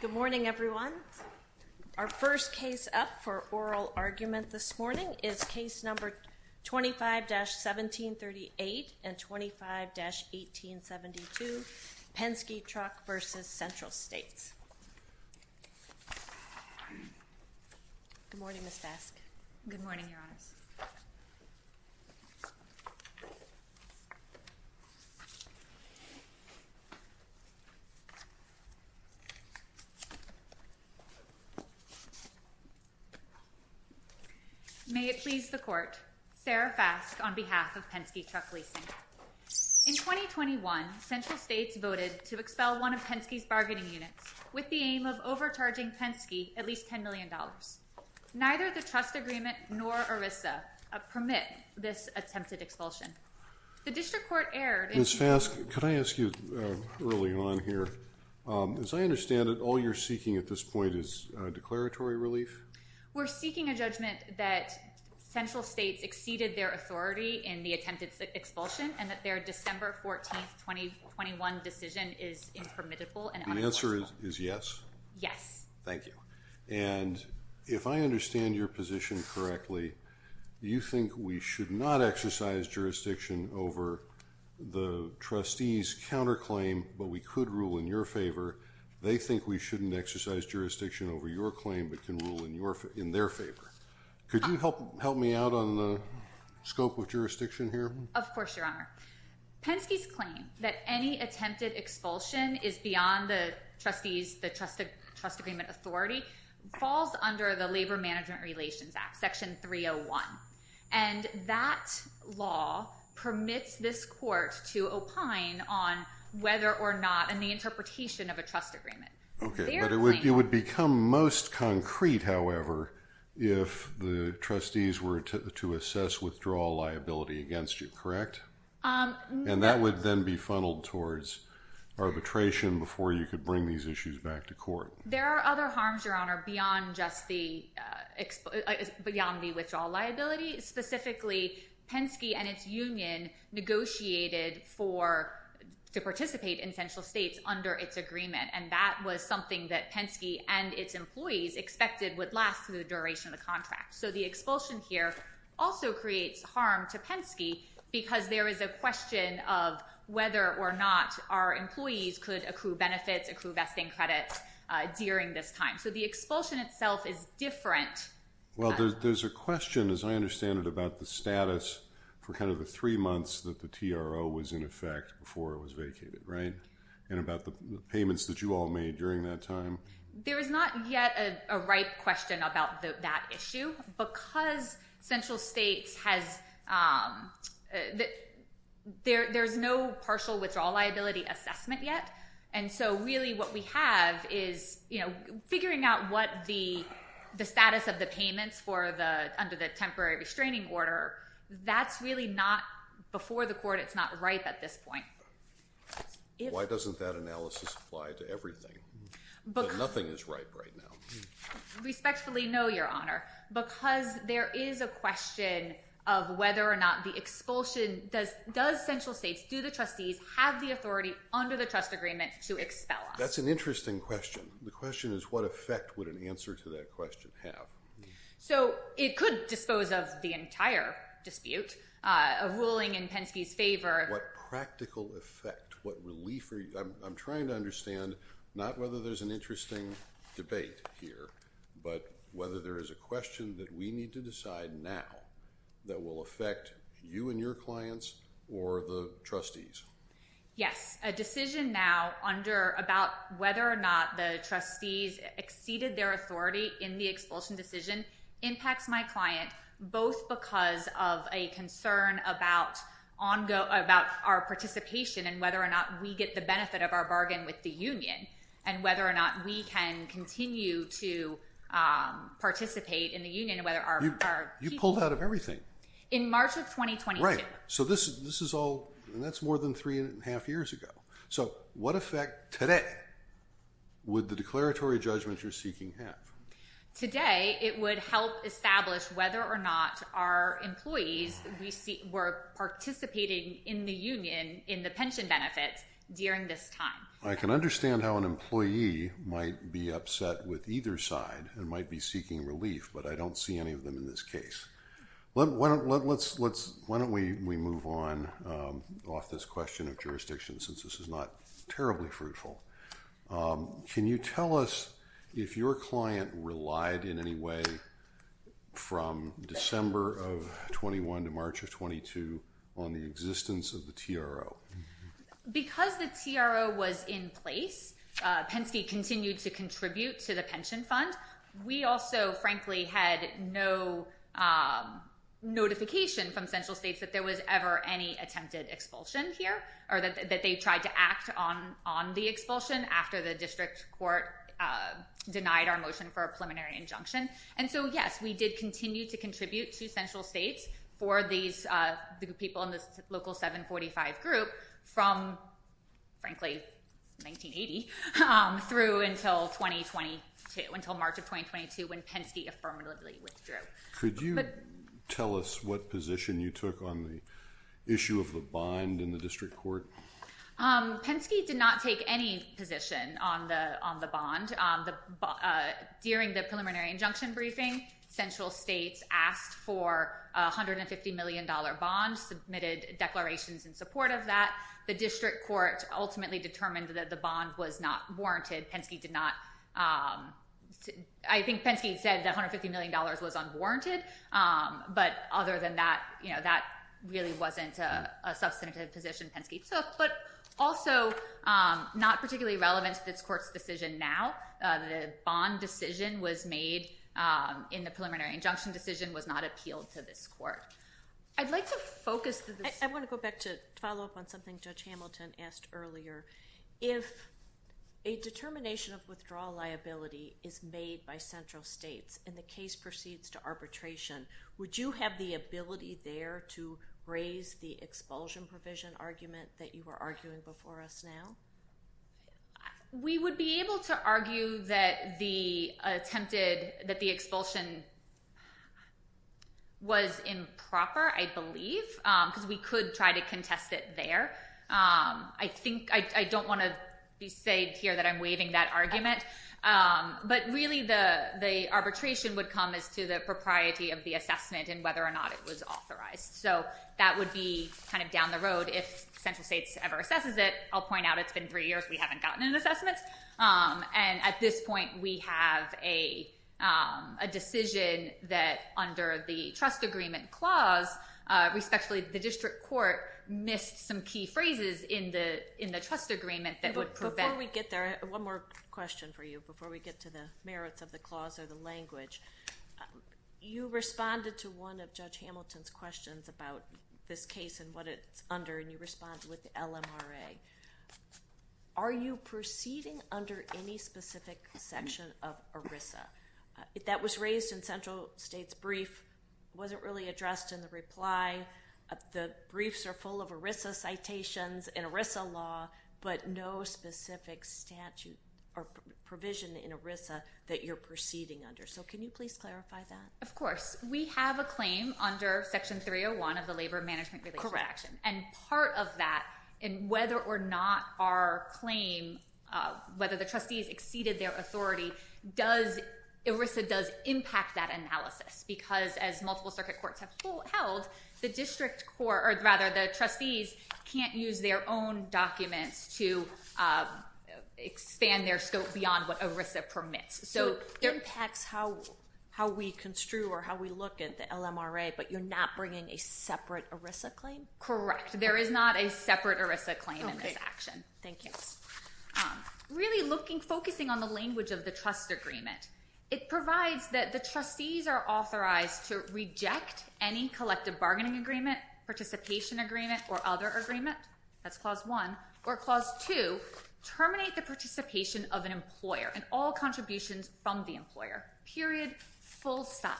Good morning, everyone. Our first case up for oral argument this morning is case number 25-1738 and 25-1872, Penske Truck v. Central States. Good morning, Ms. Faske. Good morning, Your Honors. May it please the Court, Sarah Faske on behalf of Penske Truck Leasing. In 2021, Central States voted to expel one of Penske's bargaining units with the aim of overcharging Penske at least $10 million. Neither the trust agreement nor ERISA permit this attempted expulsion. The District Court erred. Ms. Faske, could I ask you early on here, as I understand it, all you're seeking at this point is declaratory relief? We're seeking a judgment that Central States exceeded their authority in the attempted expulsion and that their December 14th, 2021 decision is impermissible and unlawful. The answer is yes. Yes. Thank you. And if I understand your position correctly, you think we should not exercise jurisdiction over the trustee's counterclaim, but we could rule in your favor. They think we shouldn't exercise jurisdiction over your claim, but can rule in their favor. Could you help me out on the scope of jurisdiction here? Of course, Your Honor. Penske's claim that any attempted expulsion is beyond the trustee's, the trust agreement authority, falls under the Labor Management Relations Act, Section 301. And that law permits this court to opine on whether or not, and the interpretation of a most concrete, however, if the trustees were to assess withdrawal liability against you, correct? And that would then be funneled towards arbitration before you could bring these issues back to court. There are other harms, Your Honor, beyond just the, beyond the withdrawal liability. Specifically, Penske and its union negotiated for, to participate in Central States under its agreement. And that was something that Penske and its employees expected would last through the duration of the contract. So the expulsion here also creates harm to Penske because there is a question of whether or not our employees could accrue benefits, accrue vesting credits during this time. So the expulsion itself is different. Well, there's a question, as I understand it, about the status for kind of the three months that the TRO was in effect before it was vacated, right? And about the payments that you all made during that time. There is not yet a ripe question about that issue because Central States has, there's no partial withdrawal liability assessment yet. And so really what we have is, you know, figuring out what the status of the payments for the, under the temporary restraining order, that's really not, before the court, it's not ripe at this point. Why doesn't that analysis apply to everything? Nothing is ripe right now. Respectfully, no, Your Honor. Because there is a question of whether or not the expulsion, does Central States, do the trustees have the authority under the trust agreement to expel us? That's an interesting question. The question is what effect would an answer to that question have? So it could dispose of the entire dispute, a ruling in Penske's favor. What practical effect? What relief? I'm trying to understand, not whether there's an interesting debate here, but whether there is a question that we need to decide now that will affect you and your clients or the trustees. Yes. A decision now under, about whether or not the trustees exceeded their authority in the expulsion decision impacts my client, both because of a concern about ongo, about our participation and whether or not we get the benefit of our bargain with the union and whether or not we can continue to participate in the union. Whether our, you pulled out of everything. In March of 2022. Right. So this, this is all, and that's more than three and a half years ago. So what effect today would the declaratory judgment you're seeking have? Today, it would help establish whether or not our employees, were participating in the union, in the pension benefits during this time. I can understand how an employee might be upset with either side and might be seeking relief, but I don't see any of them in this case. Let's, let's, let's, why don't we, we move on off this question of jurisdiction, since this is not terribly fruitful. Can you tell us if your client relied in any way from December of 21 to March of 22 on the existence of the TRO? Because the TRO was in place, Penske continued to contribute to the pension fund. We also frankly had no notification from central states that there was ever any attempted expulsion here or that they tried to act on, on the expulsion after the district court denied our motion for a preliminary injunction. And so yes, we did continue to contribute to central states for these, the people in this local 745 group from frankly, 1980 through until 2022, until March of 2022, when Penske affirmatively withdrew. Could you tell us what position you took on the issue of the bond in the district court? Penske did not take any position on the, on the bond. The, during the injunction briefing, central states asked for a $150 million bond, submitted declarations in support of that. The district court ultimately determined that the bond was not warranted. Penske did not, I think Penske said that $150 million was unwarranted. But other than that, you know, that really wasn't a substantive position Penske took, but also not particularly relevant to this court's decision. Now the bond decision was made in the preliminary injunction decision was not appealed to this court. I'd like to focus. I want to go back to follow up on something Judge Hamilton asked earlier. If a determination of withdrawal liability is made by central states and the case proceeds to arbitration, would you have the ability there to raise the expulsion provision argument that you were arguing before us now? We would be able to argue that the attempted, that the expulsion was improper, I believe, because we could try to contest it there. I think, I don't want to be said here that I'm waiving that argument. But really the, the arbitration would come as to the propriety of the assessment and whether or not it was authorized. So that would be kind of down the road if central states ever assesses it. I'll point out it's been three years we haven't gotten an assessment. And at this point we have a, a decision that under the trust agreement clause, respectfully, the district court missed some key phrases in the, in the trust agreement that would prevent. Before we get there, one more question for you before we get to the merits of the clause or the language. You responded to one of Judge Hamilton's questions about this case and what it's under and you respond with the LMRA. Are you proceeding under any specific section of ERISA? That was raised in central state's brief, wasn't really addressed in the reply. The briefs are full of ERISA citations and ERISA law, but no specific statute or provision in ERISA that you're proceeding under. So can you please clarify that? Of course. We have a claim under Section 301 of the Labor Management Relations Act. And part of that, and whether or not our claim, whether the trustees exceeded their authority, does, ERISA does impact that analysis. Because as multiple circuit courts have held, the district court, or rather the trustees, can't use their own documents to expand their scope beyond what ERISA permits. So it impacts how, how we construe or how we look at the LMRA, but you're not bringing a separate ERISA claim? Correct. There is not a separate ERISA claim in this action. Thank you. Really looking, focusing on the language of the trust agreement. It provides that the trustees are authorized to reject any collective bargaining agreement, participation agreement, or other agreement. That's clause one. Or clause two, terminate the participation of an employer and all contributions from the employer. Period. Full stop.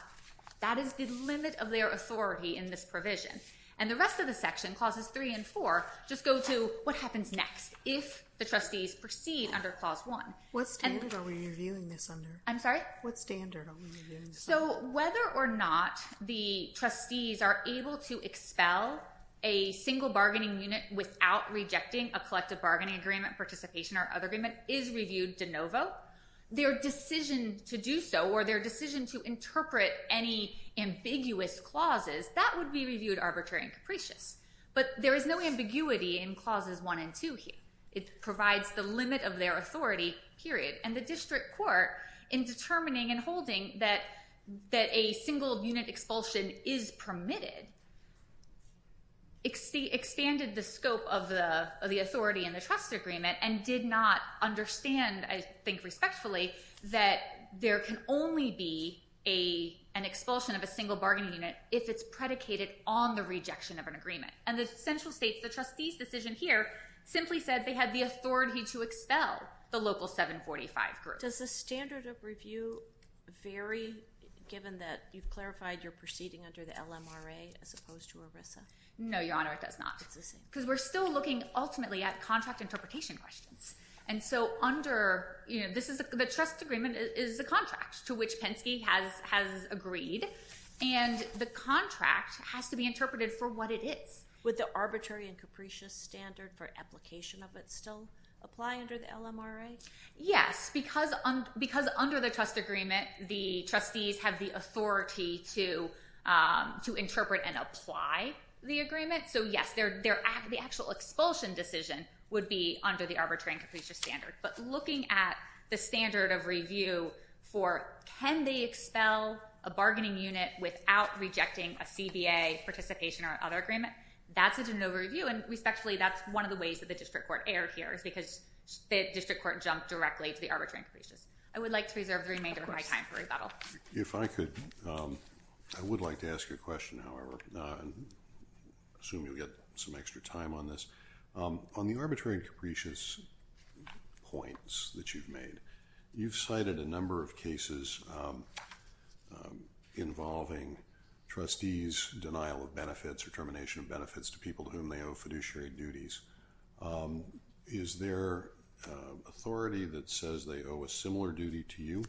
That is the limit of their authority in this provision. And the rest of the section, clauses three and four, just go to what happens next if the trustees proceed under clause one. What standard are we reviewing this under? I'm sorry? What standard are we reviewing this under? So whether or not the trustees are able to expel a single bargaining unit without rejecting a collective bargaining agreement, participation, or other agreement is reviewed de novo. Their decision to do so, or their decision to interpret any ambiguous clauses, that would be reviewed arbitrary and capricious. But there is no ambiguity in clauses one and two here. It provides the limit of their authority, period. And the district court, in determining and holding that a single unit expulsion is permitted, expanded the scope of the authority in the trust agreement and did not understand, I think respectfully, that there can only be an expulsion of a single bargaining unit if it's predicated on the rejection of an agreement. And the central states, the trustees' decision here, simply said they had the authority to expel the local 745 group. Does the standard of review vary given that you've clarified you're proceeding under the LMRA as opposed to ERISA? No, Your Honor, it does not. It's the same. Because we're still looking ultimately at contract interpretation questions. And so the trust agreement is the contract to which Penske has agreed. And the contract has to be interpreted for what it is. Would the arbitrary and capricious standard for application of it still apply under the LMRA? Yes, because under the trust agreement, the trustees have the authority to interpret and apply the agreement. So yes, the actual expulsion decision would be under the arbitrary and capricious standard. But looking at the standard of review for can they expel a bargaining unit without rejecting a CBA participation or other agreement, that's a de novo review. And respectfully, that's one of the ways that the district court erred here is because the district court jumped directly to the arbitrary and capricious. I would like to reserve the remainder of my time for rebuttal. If I could, I would like to ask you a question, however. I assume you'll get some extra time on this. On the arbitrary and capricious points that you've made, you've cited a number of cases involving trustees' denial of benefits or termination of benefits to people to whom they owe fiduciary duties. Is there authority that says they owe a similar duty to you?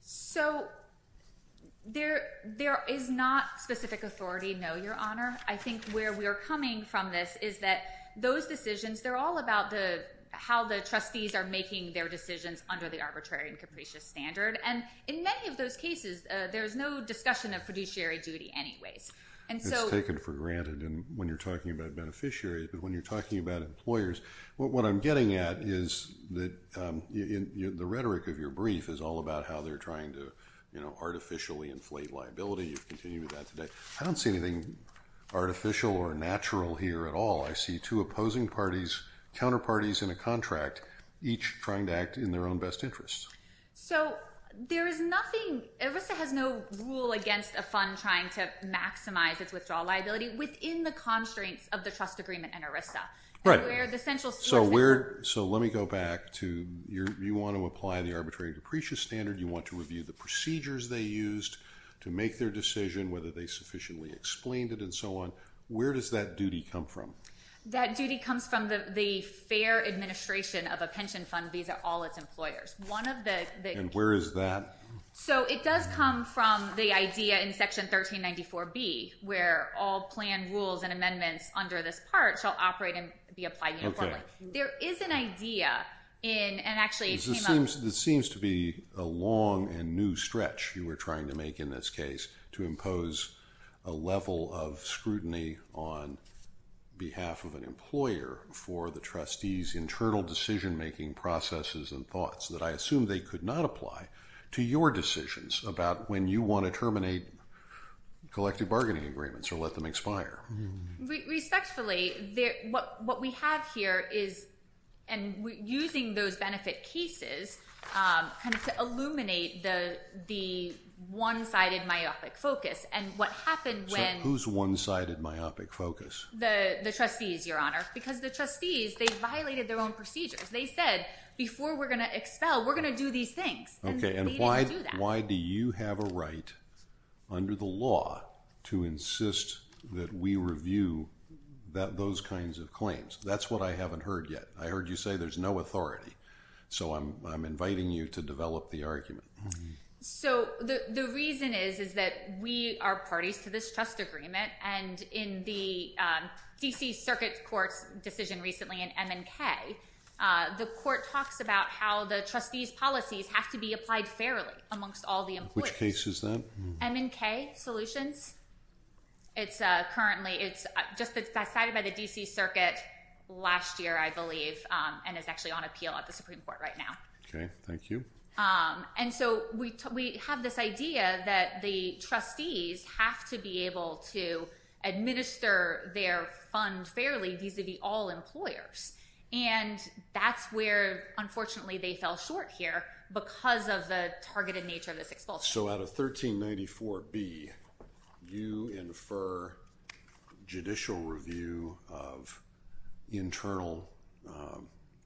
So there is not specific authority, no, Your Honor. I think where we are coming from this is that those decisions, they're all about how the trustees are making their decisions under the arbitrary and capricious standard. And in many of those cases, there's no discussion of fiduciary duty anyways. It's taken for granted when you're talking about beneficiaries. But when you're talking about employers, what I'm getting at is that the rhetoric of your brief is all about how they're trying to artificially inflate liability. You've continued with that today. I don't see anything artificial or natural here at all. I see two opposing parties, counterparties in a contract, each trying to act in their own best interests. So there is nothing, ERISA has no rule against a fund trying to maximize its withdrawal liability within the constraints of the trust agreement and ERISA. Right. So let me go back to, you want to apply the arbitrary and capricious standard, you want to review the procedures they used to make their decision, whether they sufficiently explained it and so on. Where does that duty come from? That duty comes from the fair administration of a pension fund, these are all its employers. And where is that? So it does come from the idea in section 1394B, where all planned rules and amendments under this part shall operate and be applied uniformly. There is an idea in, and actually it came up- This seems to be a long and new stretch you were trying to make in this case to impose a level of scrutiny on behalf of an employer for the trustee's internal decision-making processes and thoughts that I assume they could not apply to your decisions about when you want to terminate collective bargaining agreements or let them expire. Respectfully, what we have here is, and using those benefit cases to illuminate the one-sided myopic focus and what happened when- So who's one-sided myopic focus? The trustees, your honor, because the trustees, they violated their own procedures. They said, before we're going to expel, we're going to do these things and they didn't do that. Why do you have a right under the law to insist that we review those kinds of claims? That's what I haven't heard yet. I heard you say there's no authority. So I'm inviting you to develop the argument. So the reason is that we are parties to this trust agreement and in the D.C. Circuit Court's decision recently in M and K, the court talks about how the trustee's policies have to be applied fairly amongst all the employees. Which case is that? M and K solutions. It's currently, it's just decided by the D.C. Circuit last year, I believe, and is actually on appeal at the Supreme Court right now. Okay. Thank you. And so we have this idea that the trustees have to be able to administer their fund fairly vis-a-vis all employers. And that's where, unfortunately, they fell short here because of the targeted nature of this expulsion. So out of 1394B, you infer judicial review of internal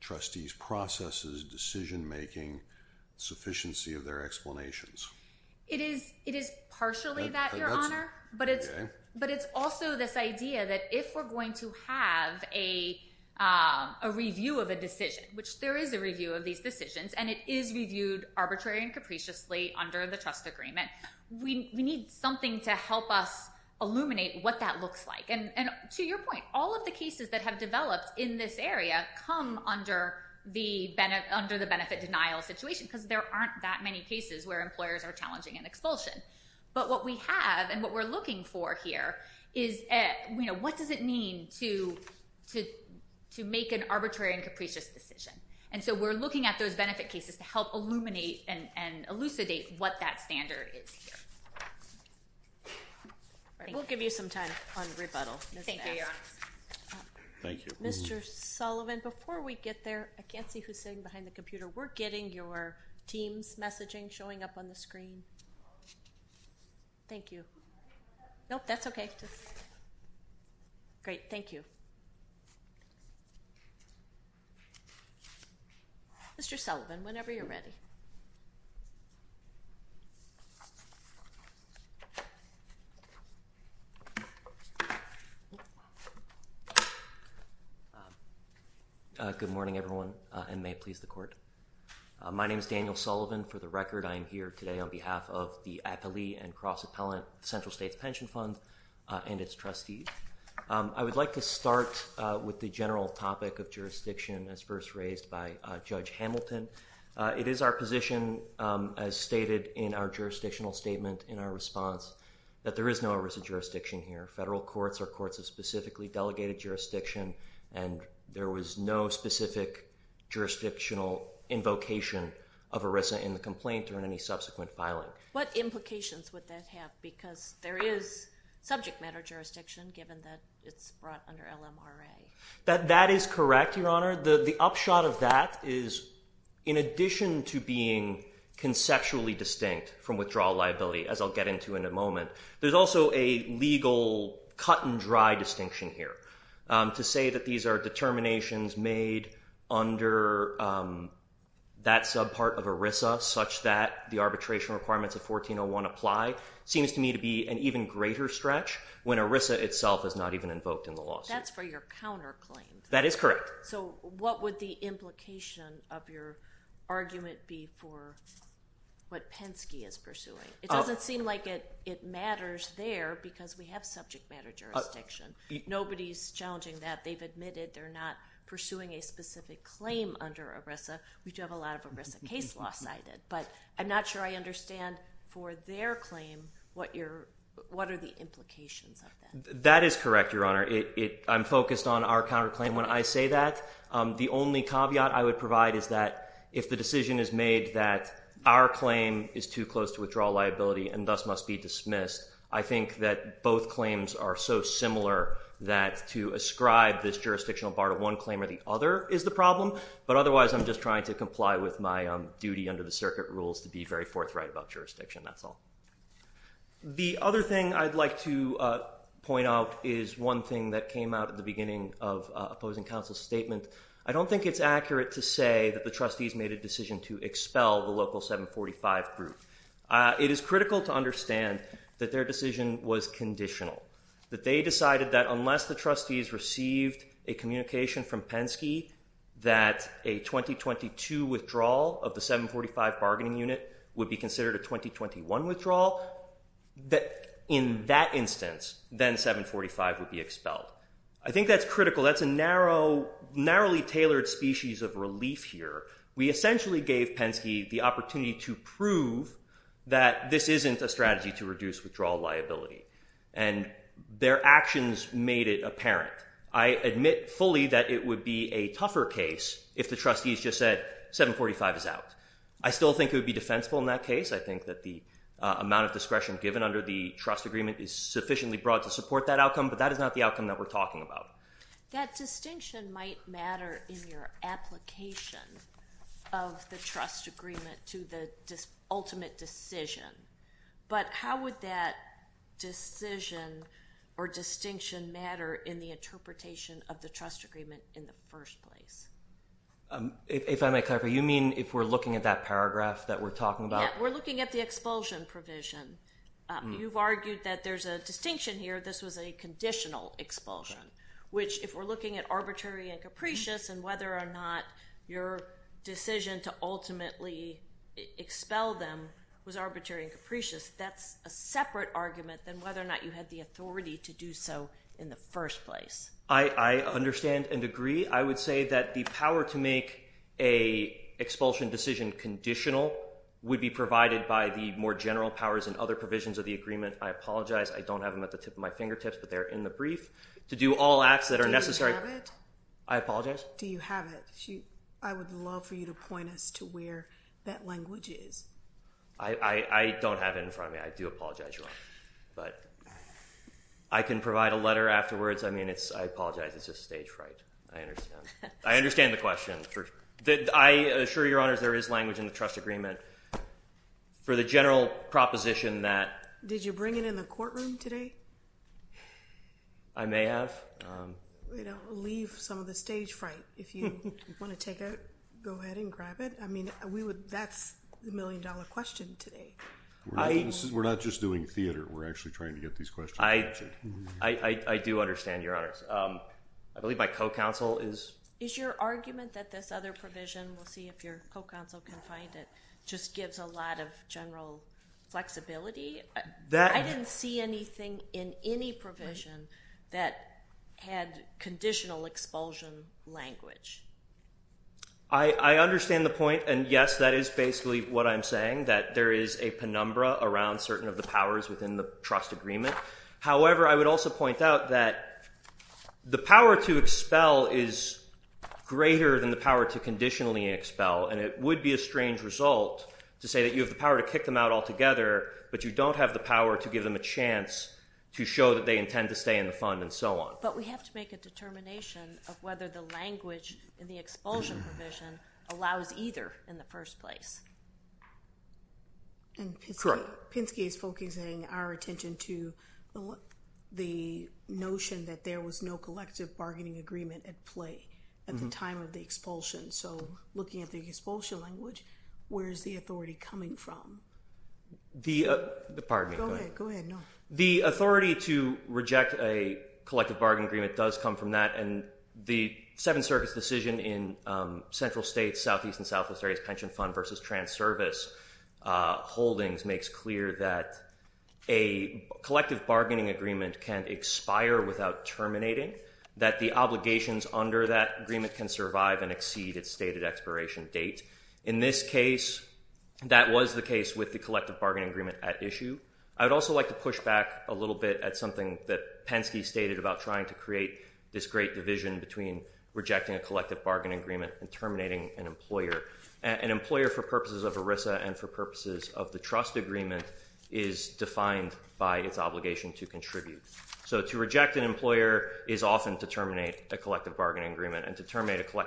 trustees' processes, decision-making, sufficiency of their explanations. It is partially that, your honor. But it's also this idea that if we're going to have a review of a decision, which there is a review of these decisions, and it is reviewed arbitrarily and capriciously under the trust agreement, we need something to help us illuminate what that looks like. And to your point, all of the cases that have developed in this area come under the benefit denial situation because there aren't that many cases where employers are challenging an expulsion. But what we have and what we're looking for here is what does it mean to make an arbitrary and capricious decision. And so we're looking at those benefit cases to help illuminate and elucidate what that standard is here. All right. We'll give you some time on rebuttal, Ms. Bass. Thank you, your honor. Thank you. Mr. Sullivan, before we get there, I can't see who's sitting behind the computer. We're getting your team's messaging showing up on the screen. Thank you. Nope, that's okay. Great, thank you. Mr. Sullivan, whenever you're ready. Good morning, everyone, and may it please the court. My name is Daniel Sullivan. For the record, I am here today on behalf of the Appellee and Cross-Appellant Central States Pension Fund and its trustees. I would like to start with the general topic of jurisdiction as first raised by Judge Hamilton. It is our position, as stated in our jurisdictional statement in our response, that there is no risk of jurisdiction here. Federal courts are courts of specifically delegated jurisdiction, and there was no specific jurisdictional invocation of ERISA in the complaint or in any subsequent filing. What implications would that have? Because there is subject matter jurisdiction, given that it's brought under LMRA. That is correct, your honor. The upshot of that is, in addition to being conceptually distinct from withdrawal liability, as I'll get into in a moment, there's also a legal cut and dry distinction here. To say that these are determinations made under that subpart of ERISA, such that the arbitration requirements of 1401 apply, seems to me to be an even greater stretch when ERISA itself is not even invoked in the lawsuit. That's for your counterclaim. That is correct. So what would the implication of your argument be for what Penske is pursuing? It doesn't seem like it matters there, because we have subject matter jurisdiction. Nobody's challenging that. They've admitted they're not pursuing a specific claim under ERISA. We do have a lot of ERISA case law cited. But I'm not sure I understand, for their claim, what are the implications of that? That is correct, your honor. I'm focused on our counterclaim. When I say that, the only caveat I would provide is that if the decision is made that our claim is too close to withdrawal liability and thus must be dismissed, I think that both claims are so similar that to ascribe this jurisdictional bar to one claim or the other is the problem. But otherwise, I'm just trying to comply with my duty under the circuit rules to be very forthright about jurisdiction. That's all. The other thing I'd like to point out is one thing that came out at the beginning of opposing counsel's statement. I don't think it's accurate to say that the trustees made a decision to expel the local 745 group. It is critical to understand that their decision was conditional, that they decided that unless the trustees received a communication from Penske that a 2022 withdrawal of the 745 bargaining unit would be considered a 2021 withdrawal, that in that instance, then 745 would be expelled. I think that's critical. That's a narrowly tailored species of relief here. We essentially gave Penske the opportunity to prove that this isn't a strategy to reduce withdrawal liability, and their actions made it apparent. I admit fully that it would be a tougher case if the trustees just said 745 is out. I still think it would be defensible in that case. I think that the amount of discretion given under the trust agreement is sufficiently broad to support that outcome, but that is not the outcome that we're talking about. That distinction might matter in your application of the trust agreement to the ultimate decision, but how would that decision or distinction matter in the interpretation of the trust agreement in the first place? If I may clarify, you mean if we're looking at that paragraph that we're talking about? We're looking at the expulsion provision. You've argued that there's a distinction here. This was a conditional expulsion. If we're looking at arbitrary and capricious and whether or not your decision to ultimately expel them was arbitrary and capricious, that's a separate argument than whether or not you had the authority to do so in the first place. I understand and agree. I would say that the power to make a expulsion decision conditional would be provided by the more general powers and other provisions of the agreement. I apologize. I don't have them at the tip of my fingertips, but they're in the brief. To do all acts that are necessary. Do you have it? I apologize. Do you have it? I would love for you to point us to where that language is. I don't have it in front of me. I do apologize, Your Honor, but I can provide a letter afterwards. I mean, I apologize. It's just stage fright. I understand. I understand the question. I assure Your Honors there is language in the trust agreement for the general proposition that— Did you bring it in the courtroom today? I may have. We don't leave some of the stage fright. If you want to take it, go ahead and grab it. I mean, that's the million-dollar question today. We're not just doing theater. We're actually trying to get these questions answered. I do understand, Your Honors. I believe my co-counsel is— Is your argument that this other provision, we'll see if your co-counsel can find it, just gives a lot of general flexibility? I didn't see anything in any provision that had conditional expulsion language. I understand the point. And yes, that is basically what I'm saying, that there is a penumbra around certain of the powers within the trust agreement. However, I would also point out that the power to expel is greater than the power to conditionally expel, and it would be a strange result to say that you have the power to kick them out together, but you don't have the power to give them a chance to show that they intend to stay in the fund and so on. But we have to make a determination of whether the language in the expulsion provision allows either in the first place. And Pinsky is focusing our attention to the notion that there was no collective bargaining agreement at play at the time of the expulsion. So looking at the expulsion language, where is the authority coming from? The authority to reject a collective bargaining agreement does come from that. And the Seventh Circuit's decision in central states, southeast and southwest areas pension fund versus trans-service holdings makes clear that a collective bargaining agreement can expire without terminating, that the obligations under that agreement can survive and exceed its stated expiration date. In this case, that was the case with the collective bargaining agreement at issue. I would also like to push back a little bit at something that Pinsky stated about trying to create this great division between rejecting a collective bargaining agreement and terminating an employer. An employer, for purposes of ERISA and for purposes of the trust agreement, is defined by its obligation to contribute. So to reject an employer is often to terminate a collective bargaining agreement, and to terminate an employer,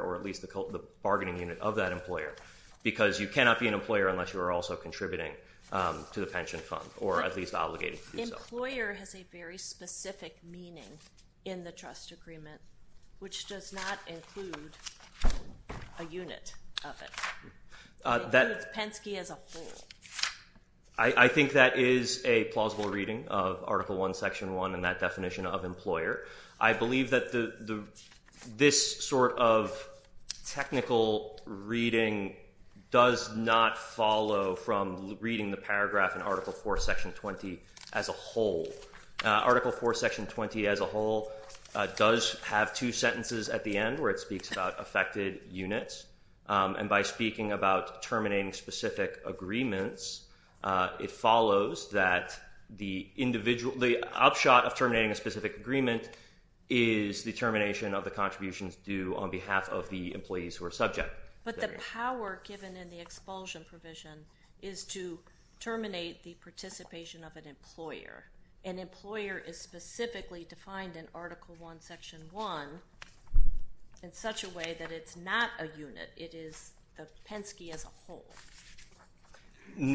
or at least the bargaining unit of that employer. Because you cannot be an employer unless you are also contributing to the pension fund, or at least obligated to do so. Employer has a very specific meaning in the trust agreement, which does not include a unit of it. It includes Pinsky as a whole. I think that is a plausible reading of Article I, Section 1, and that definition of employer. I believe that this sort of technical reading does not follow from reading the paragraph in Article IV, Section 20 as a whole. Article IV, Section 20 as a whole does have two sentences at the end where it speaks about affected units. And by speaking about terminating specific agreements, it follows that the upshot of an agreement is the termination of the contributions due on behalf of the employees who are subject. But the power given in the expulsion provision is to terminate the participation of an employer. An employer is specifically defined in Article I, Section 1 in such a way that it's not a It is the Pensky as a whole.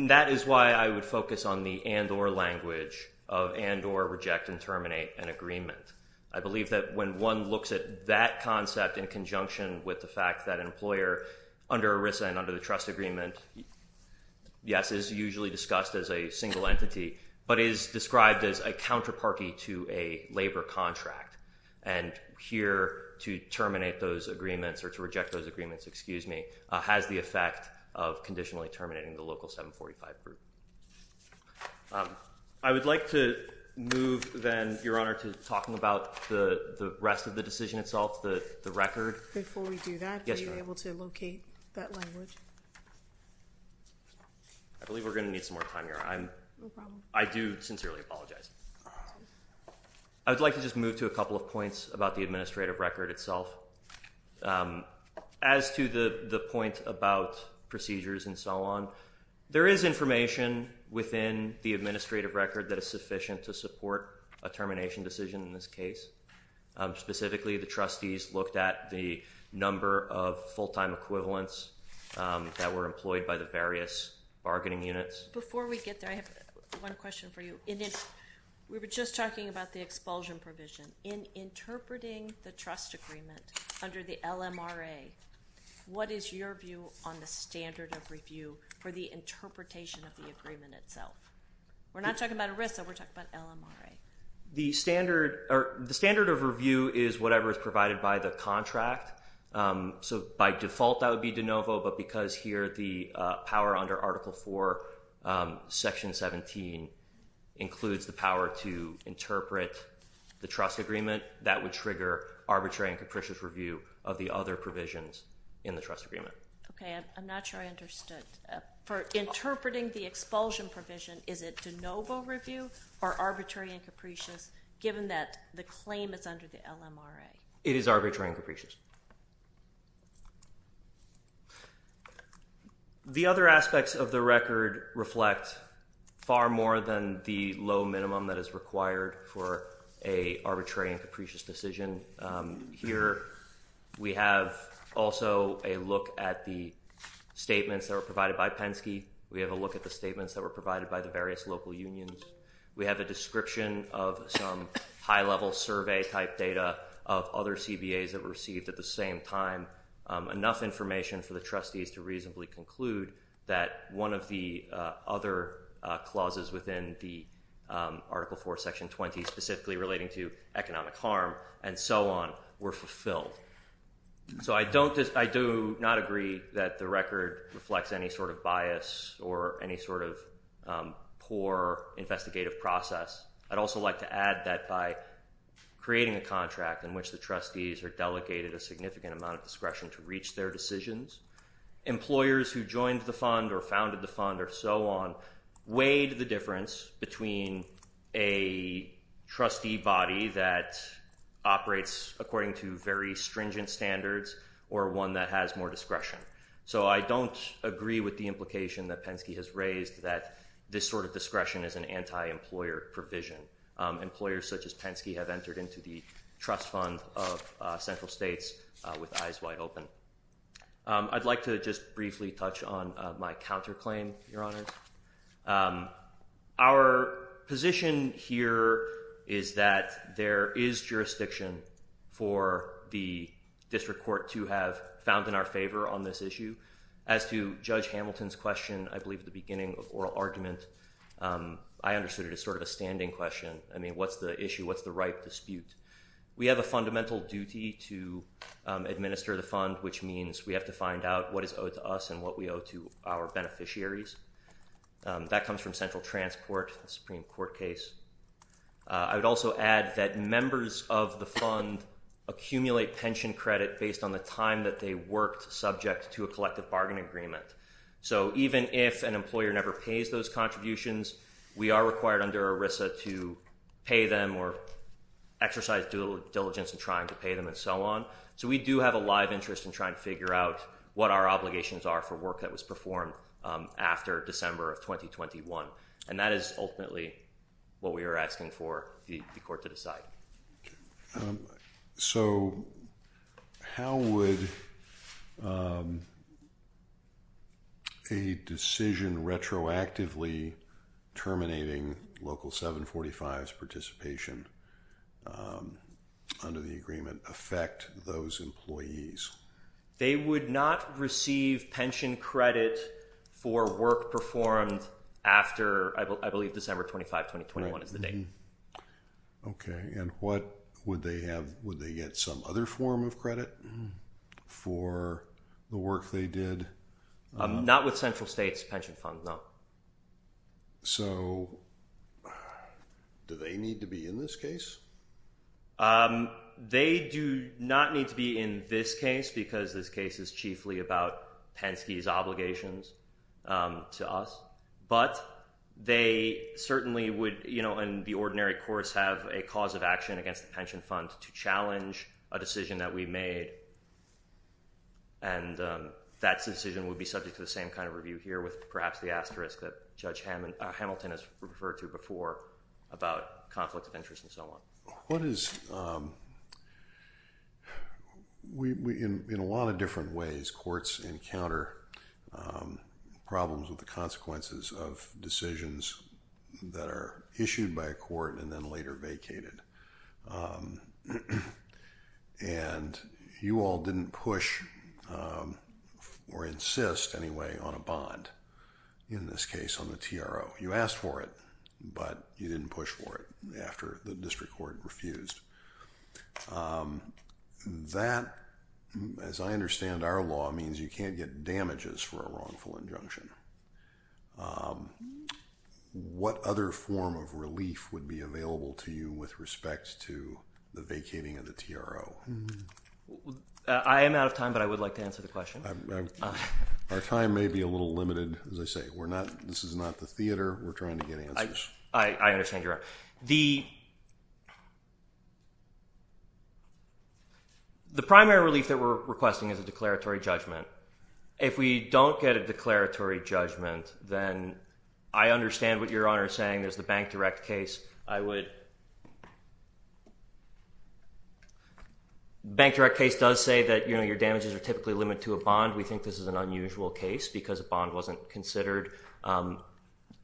That is why I would focus on the and or language of and or reject and terminate an agreement. I believe that when one looks at that concept in conjunction with the fact that an employer under ERISA and under the trust agreement, yes, is usually discussed as a single entity, but is described as a counterparty to a labor contract. And here to terminate those agreements or to reject those agreements, excuse me, has the effect of conditionally terminating the local 745 group. I would like to move then, Your Honor, to talking about the rest of the decision itself, the record. Before we do that, are you able to locate that language? I believe we're going to need some more time here. I'm no problem. I do sincerely apologize. I would like to just move to a couple of points about the administrative record itself. As to the point about procedures and so on, there is information within the administrative record that is sufficient to support a termination decision in this case. Specifically, the trustees looked at the number of full-time equivalents that were employed by the various bargaining units. Before we get there, I have one question for you. We were just talking about the expulsion provision. In interpreting the trust agreement under the LMRA, what is your view on the standard of review for the interpretation of the agreement itself? We're not talking about ERISA. We're talking about LMRA. The standard of review is whatever is provided by the contract. So by default, that would be de novo. But because here the power under Article IV, Section 17, includes the power to interpret the trust agreement, that would trigger arbitrary and capricious review of the other provisions in the trust agreement. Okay. I'm not sure I understood. For interpreting the expulsion provision, is it de novo review or arbitrary and capricious given that the claim is under the LMRA? It is arbitrary and capricious. The other aspects of the record reflect far more than the low minimum that is required for an arbitrary and capricious decision. Here we have also a look at the statements that were provided by Penske. We have a look at the statements that were provided by the various local unions. We have a description of some high-level survey-type data of other CBAs that were received at the same time. Enough information for the trustees to reasonably conclude that one of the other clauses within the Article IV, Section 20, specifically relating to economic harm and so on, were fulfilled. So I do not agree that the record reflects any sort of bias or any sort of poor investigative process. I'd also like to add that by creating a contract in which the trustees are delegated a significant amount of discretion to reach their decisions, employers who joined the fund or founded the fund or so on, weighed the difference between a trustee body that operates according to very stringent standards or one that has more discretion. So I don't agree with the implication that Penske has raised that this sort of discretion is an anti-employer provision. Employers such as Penske have entered into the trust fund of central states with eyes wide open. I'd like to just briefly touch on my counterclaim, Your Honors. Our position here is that there is jurisdiction for the district court to have found in our favor on this issue. As to Judge Hamilton's question, I believe at the beginning of oral argument, I understood it as sort of a standing question. I mean, what's the issue? What's the right dispute? We have a fundamental duty to administer the fund, which means we have to find out what is owed to us and what we owe to our beneficiaries. That comes from central transport, the Supreme Court case. I would also add that members of the fund accumulate pension credit based on the time that they worked subject to a collective bargain agreement. So even if an employer never pays those contributions, we are required under ERISA to pay them or exercise due diligence in trying to pay them and so on. So we do have a live interest in trying to figure out what our obligations are for work that was performed after December of 2021. And that is ultimately what we are asking for the court to decide. Okay. So how would a decision retroactively terminating Local 745's participation under the agreement affect those employees? They would not receive pension credit for work performed after, I believe, December 25, 2021 is the date. Okay. And what would they have? Would they get some other form of credit for the work they did? Not with central states pension funds, no. So do they need to be in this case? They do not need to be in this case because this case is chiefly about Penske's obligations to us. But they certainly would, you know, in the ordinary course, have a cause of action against the pension fund to challenge a decision that we made. And that decision would be subject to the same kind of review here with perhaps the asterisk that Judge Hamilton has referred to before about conflict of interest and so on. What is, in a lot of different ways, courts encounter problems with the consequences of decisions that are issued by a court and then later vacated. And you all did not push or insist anyway on a bond in this case on the TRO. You asked for it, but you didn't push for it after the district court refused. That, as I understand our law, means you can't get damages for a wrongful injunction. What other form of relief would be available to you with respect to the vacating of the TRO? I am out of time, but I would like to answer the question. Our time may be a little limited. As I say, this is not the theater. We're trying to get answers. I understand, Your Honor. The primary relief that we're requesting is a declaratory judgment. If we don't get a declaratory judgment, then I understand what Your Honor is saying. There's the Bank Direct case. I would… Bank Direct case does say that, you know, your damages are typically limited to a bond. We think this is an unusual case because a bond wasn't considered.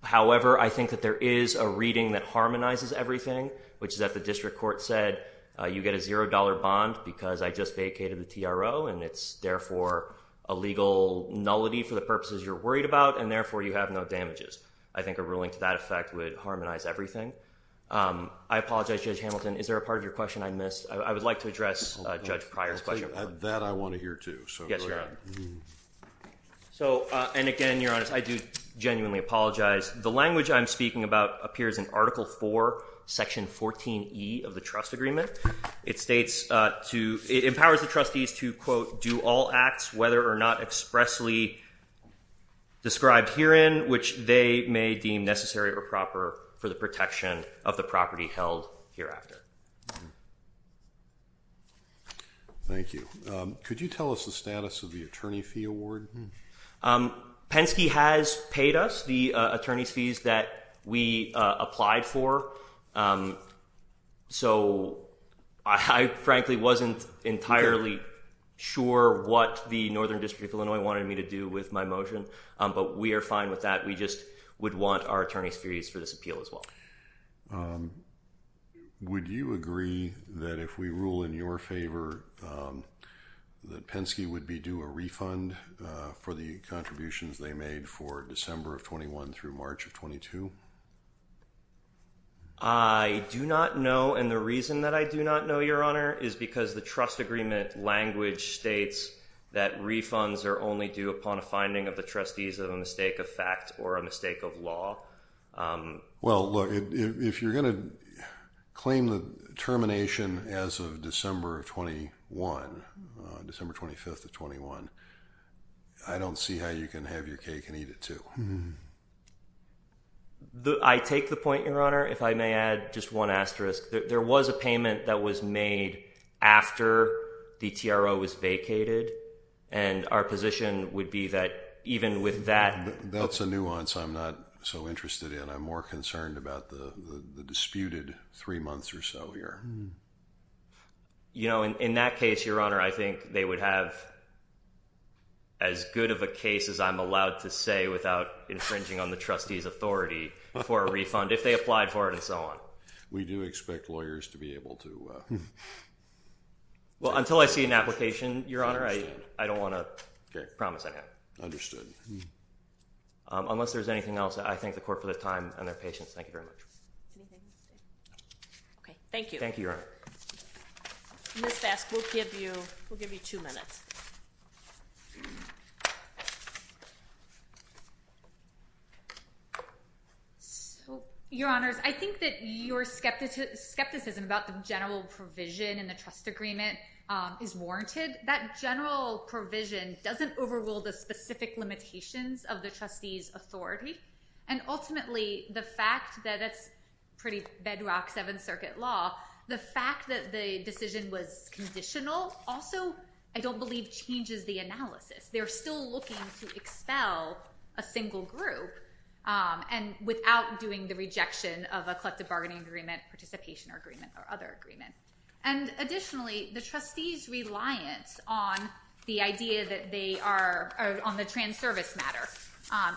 However, I think that there is a reading that harmonizes everything, which is that the district court said you get a $0 bond because I just vacated the TRO, and it's therefore a legal nullity for the purposes you're worried about, and therefore you have no damages. I think a ruling to that effect would harmonize everything. I apologize, Judge Hamilton. Is there a part of your question I missed? I would like to address Judge Pryor's question. That I want to hear, too. So, go ahead. So, and again, Your Honor, I do genuinely apologize. The language I'm speaking about appears in Article 4, Section 14E of the trust agreement. It states to… it empowers the trustees to, quote, do all acts whether or not expressly described herein which they may deem necessary or proper for the protection of the property held hereafter. Thank you. Could you tell us the status of the attorney fee award? Penske has paid us the attorney's fees that we applied for. So, I frankly wasn't entirely sure what the Northern District of Illinois wanted me to do with my motion, but we are fine with that. We just would want our attorney's fees for this appeal as well. Um, would you agree that if we rule in your favor that Penske would be due a refund for the contributions they made for December of 21 through March of 22? I do not know, and the reason that I do not know, Your Honor, is because the trust agreement language states that refunds are only due upon a finding of the trustees of a mistake of fact or a mistake of law. Well, look, if you're going to claim the termination as of December of 21, December 25th of 21, I don't see how you can have your cake and eat it, too. I take the point, Your Honor. If I may add just one asterisk, there was a payment that was made after the TRO was vacated, and our position would be that even with that… That's a nuance. I'm not so interested in. I'm more concerned about the disputed three months or so here. You know, in that case, Your Honor, I think they would have as good of a case as I'm allowed to say without infringing on the trustee's authority for a refund if they applied for it and so on. We do expect lawyers to be able to… Well, until I see an application, Your Honor, I don't want to promise anything. Understood. Unless there's anything else, I thank the Court for the time and their patience. Thank you very much. Okay. Thank you. Ms. Vask, we'll give you two minutes. So, Your Honors, I think that your skepticism about the general provision in the trust agreement is warranted. That general provision doesn't overrule the specific limitations of the trustee's authority. And ultimately, the fact that it's pretty bedrock Seventh Circuit law, the fact that the decision was conditional also, I don't believe, changes the analysis. They're still looking to expel a single group without doing the rejection of a collective bargaining agreement, participation agreement, or other agreement. And additionally, the trustee's reliance on the idea that they are on the trans-service matter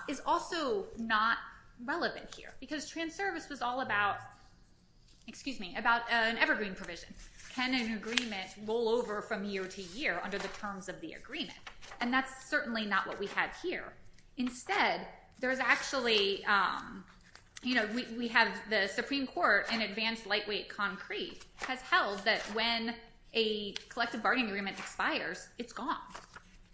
is also not relevant here. Because trans-service was all about, excuse me, about an evergreen provision. Can an agreement roll over from year to year under the terms of the agreement? And that's certainly not what we have here. Instead, there's actually, you know, we have the Supreme Court in advanced lightweight concrete has held that when a collective bargaining agreement expires, it's gone.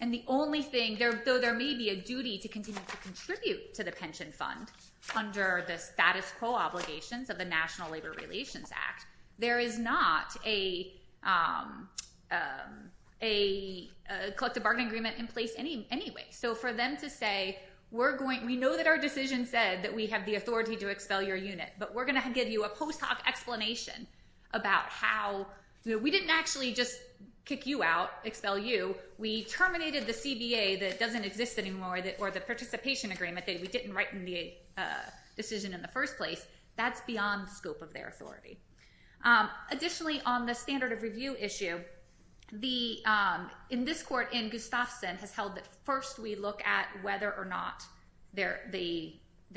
And the only thing, though there may be a duty to continue to contribute to the pension fund under the status quo obligations of the National Labor Relations Act, there is not a collective bargaining agreement in place anyway. So for them to say, we know that our decision said that we have the authority to expel your unit, but we're going to give you a post hoc explanation about how, we didn't actually just kick you out, expel you, we terminated the CBA that doesn't exist anymore, or the participation agreement that we didn't write in the decision in the first place, that's beyond the scope of their authority. Additionally, on the standard of review issue, in this court, Anne Gustafson has held that first we look at whether or not the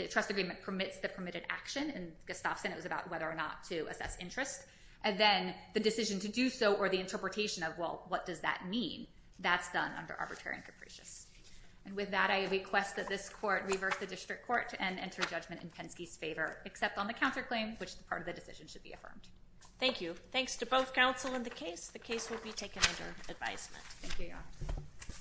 trust agreement permits the permitted action, and Gustafson, it was about whether or not to assess interest, and then the decision to do so or the interpretation of, well, what does that mean? That's done under arbitrary and capricious. And with that, I request that this court reverse the district court and enter judgment in Penske's favor, except on the counterclaim, which is part of the decision should be affirmed. Thank you. Thanks to both counsel in the case. The case will be taken under advisement. Thank you, Your Honor.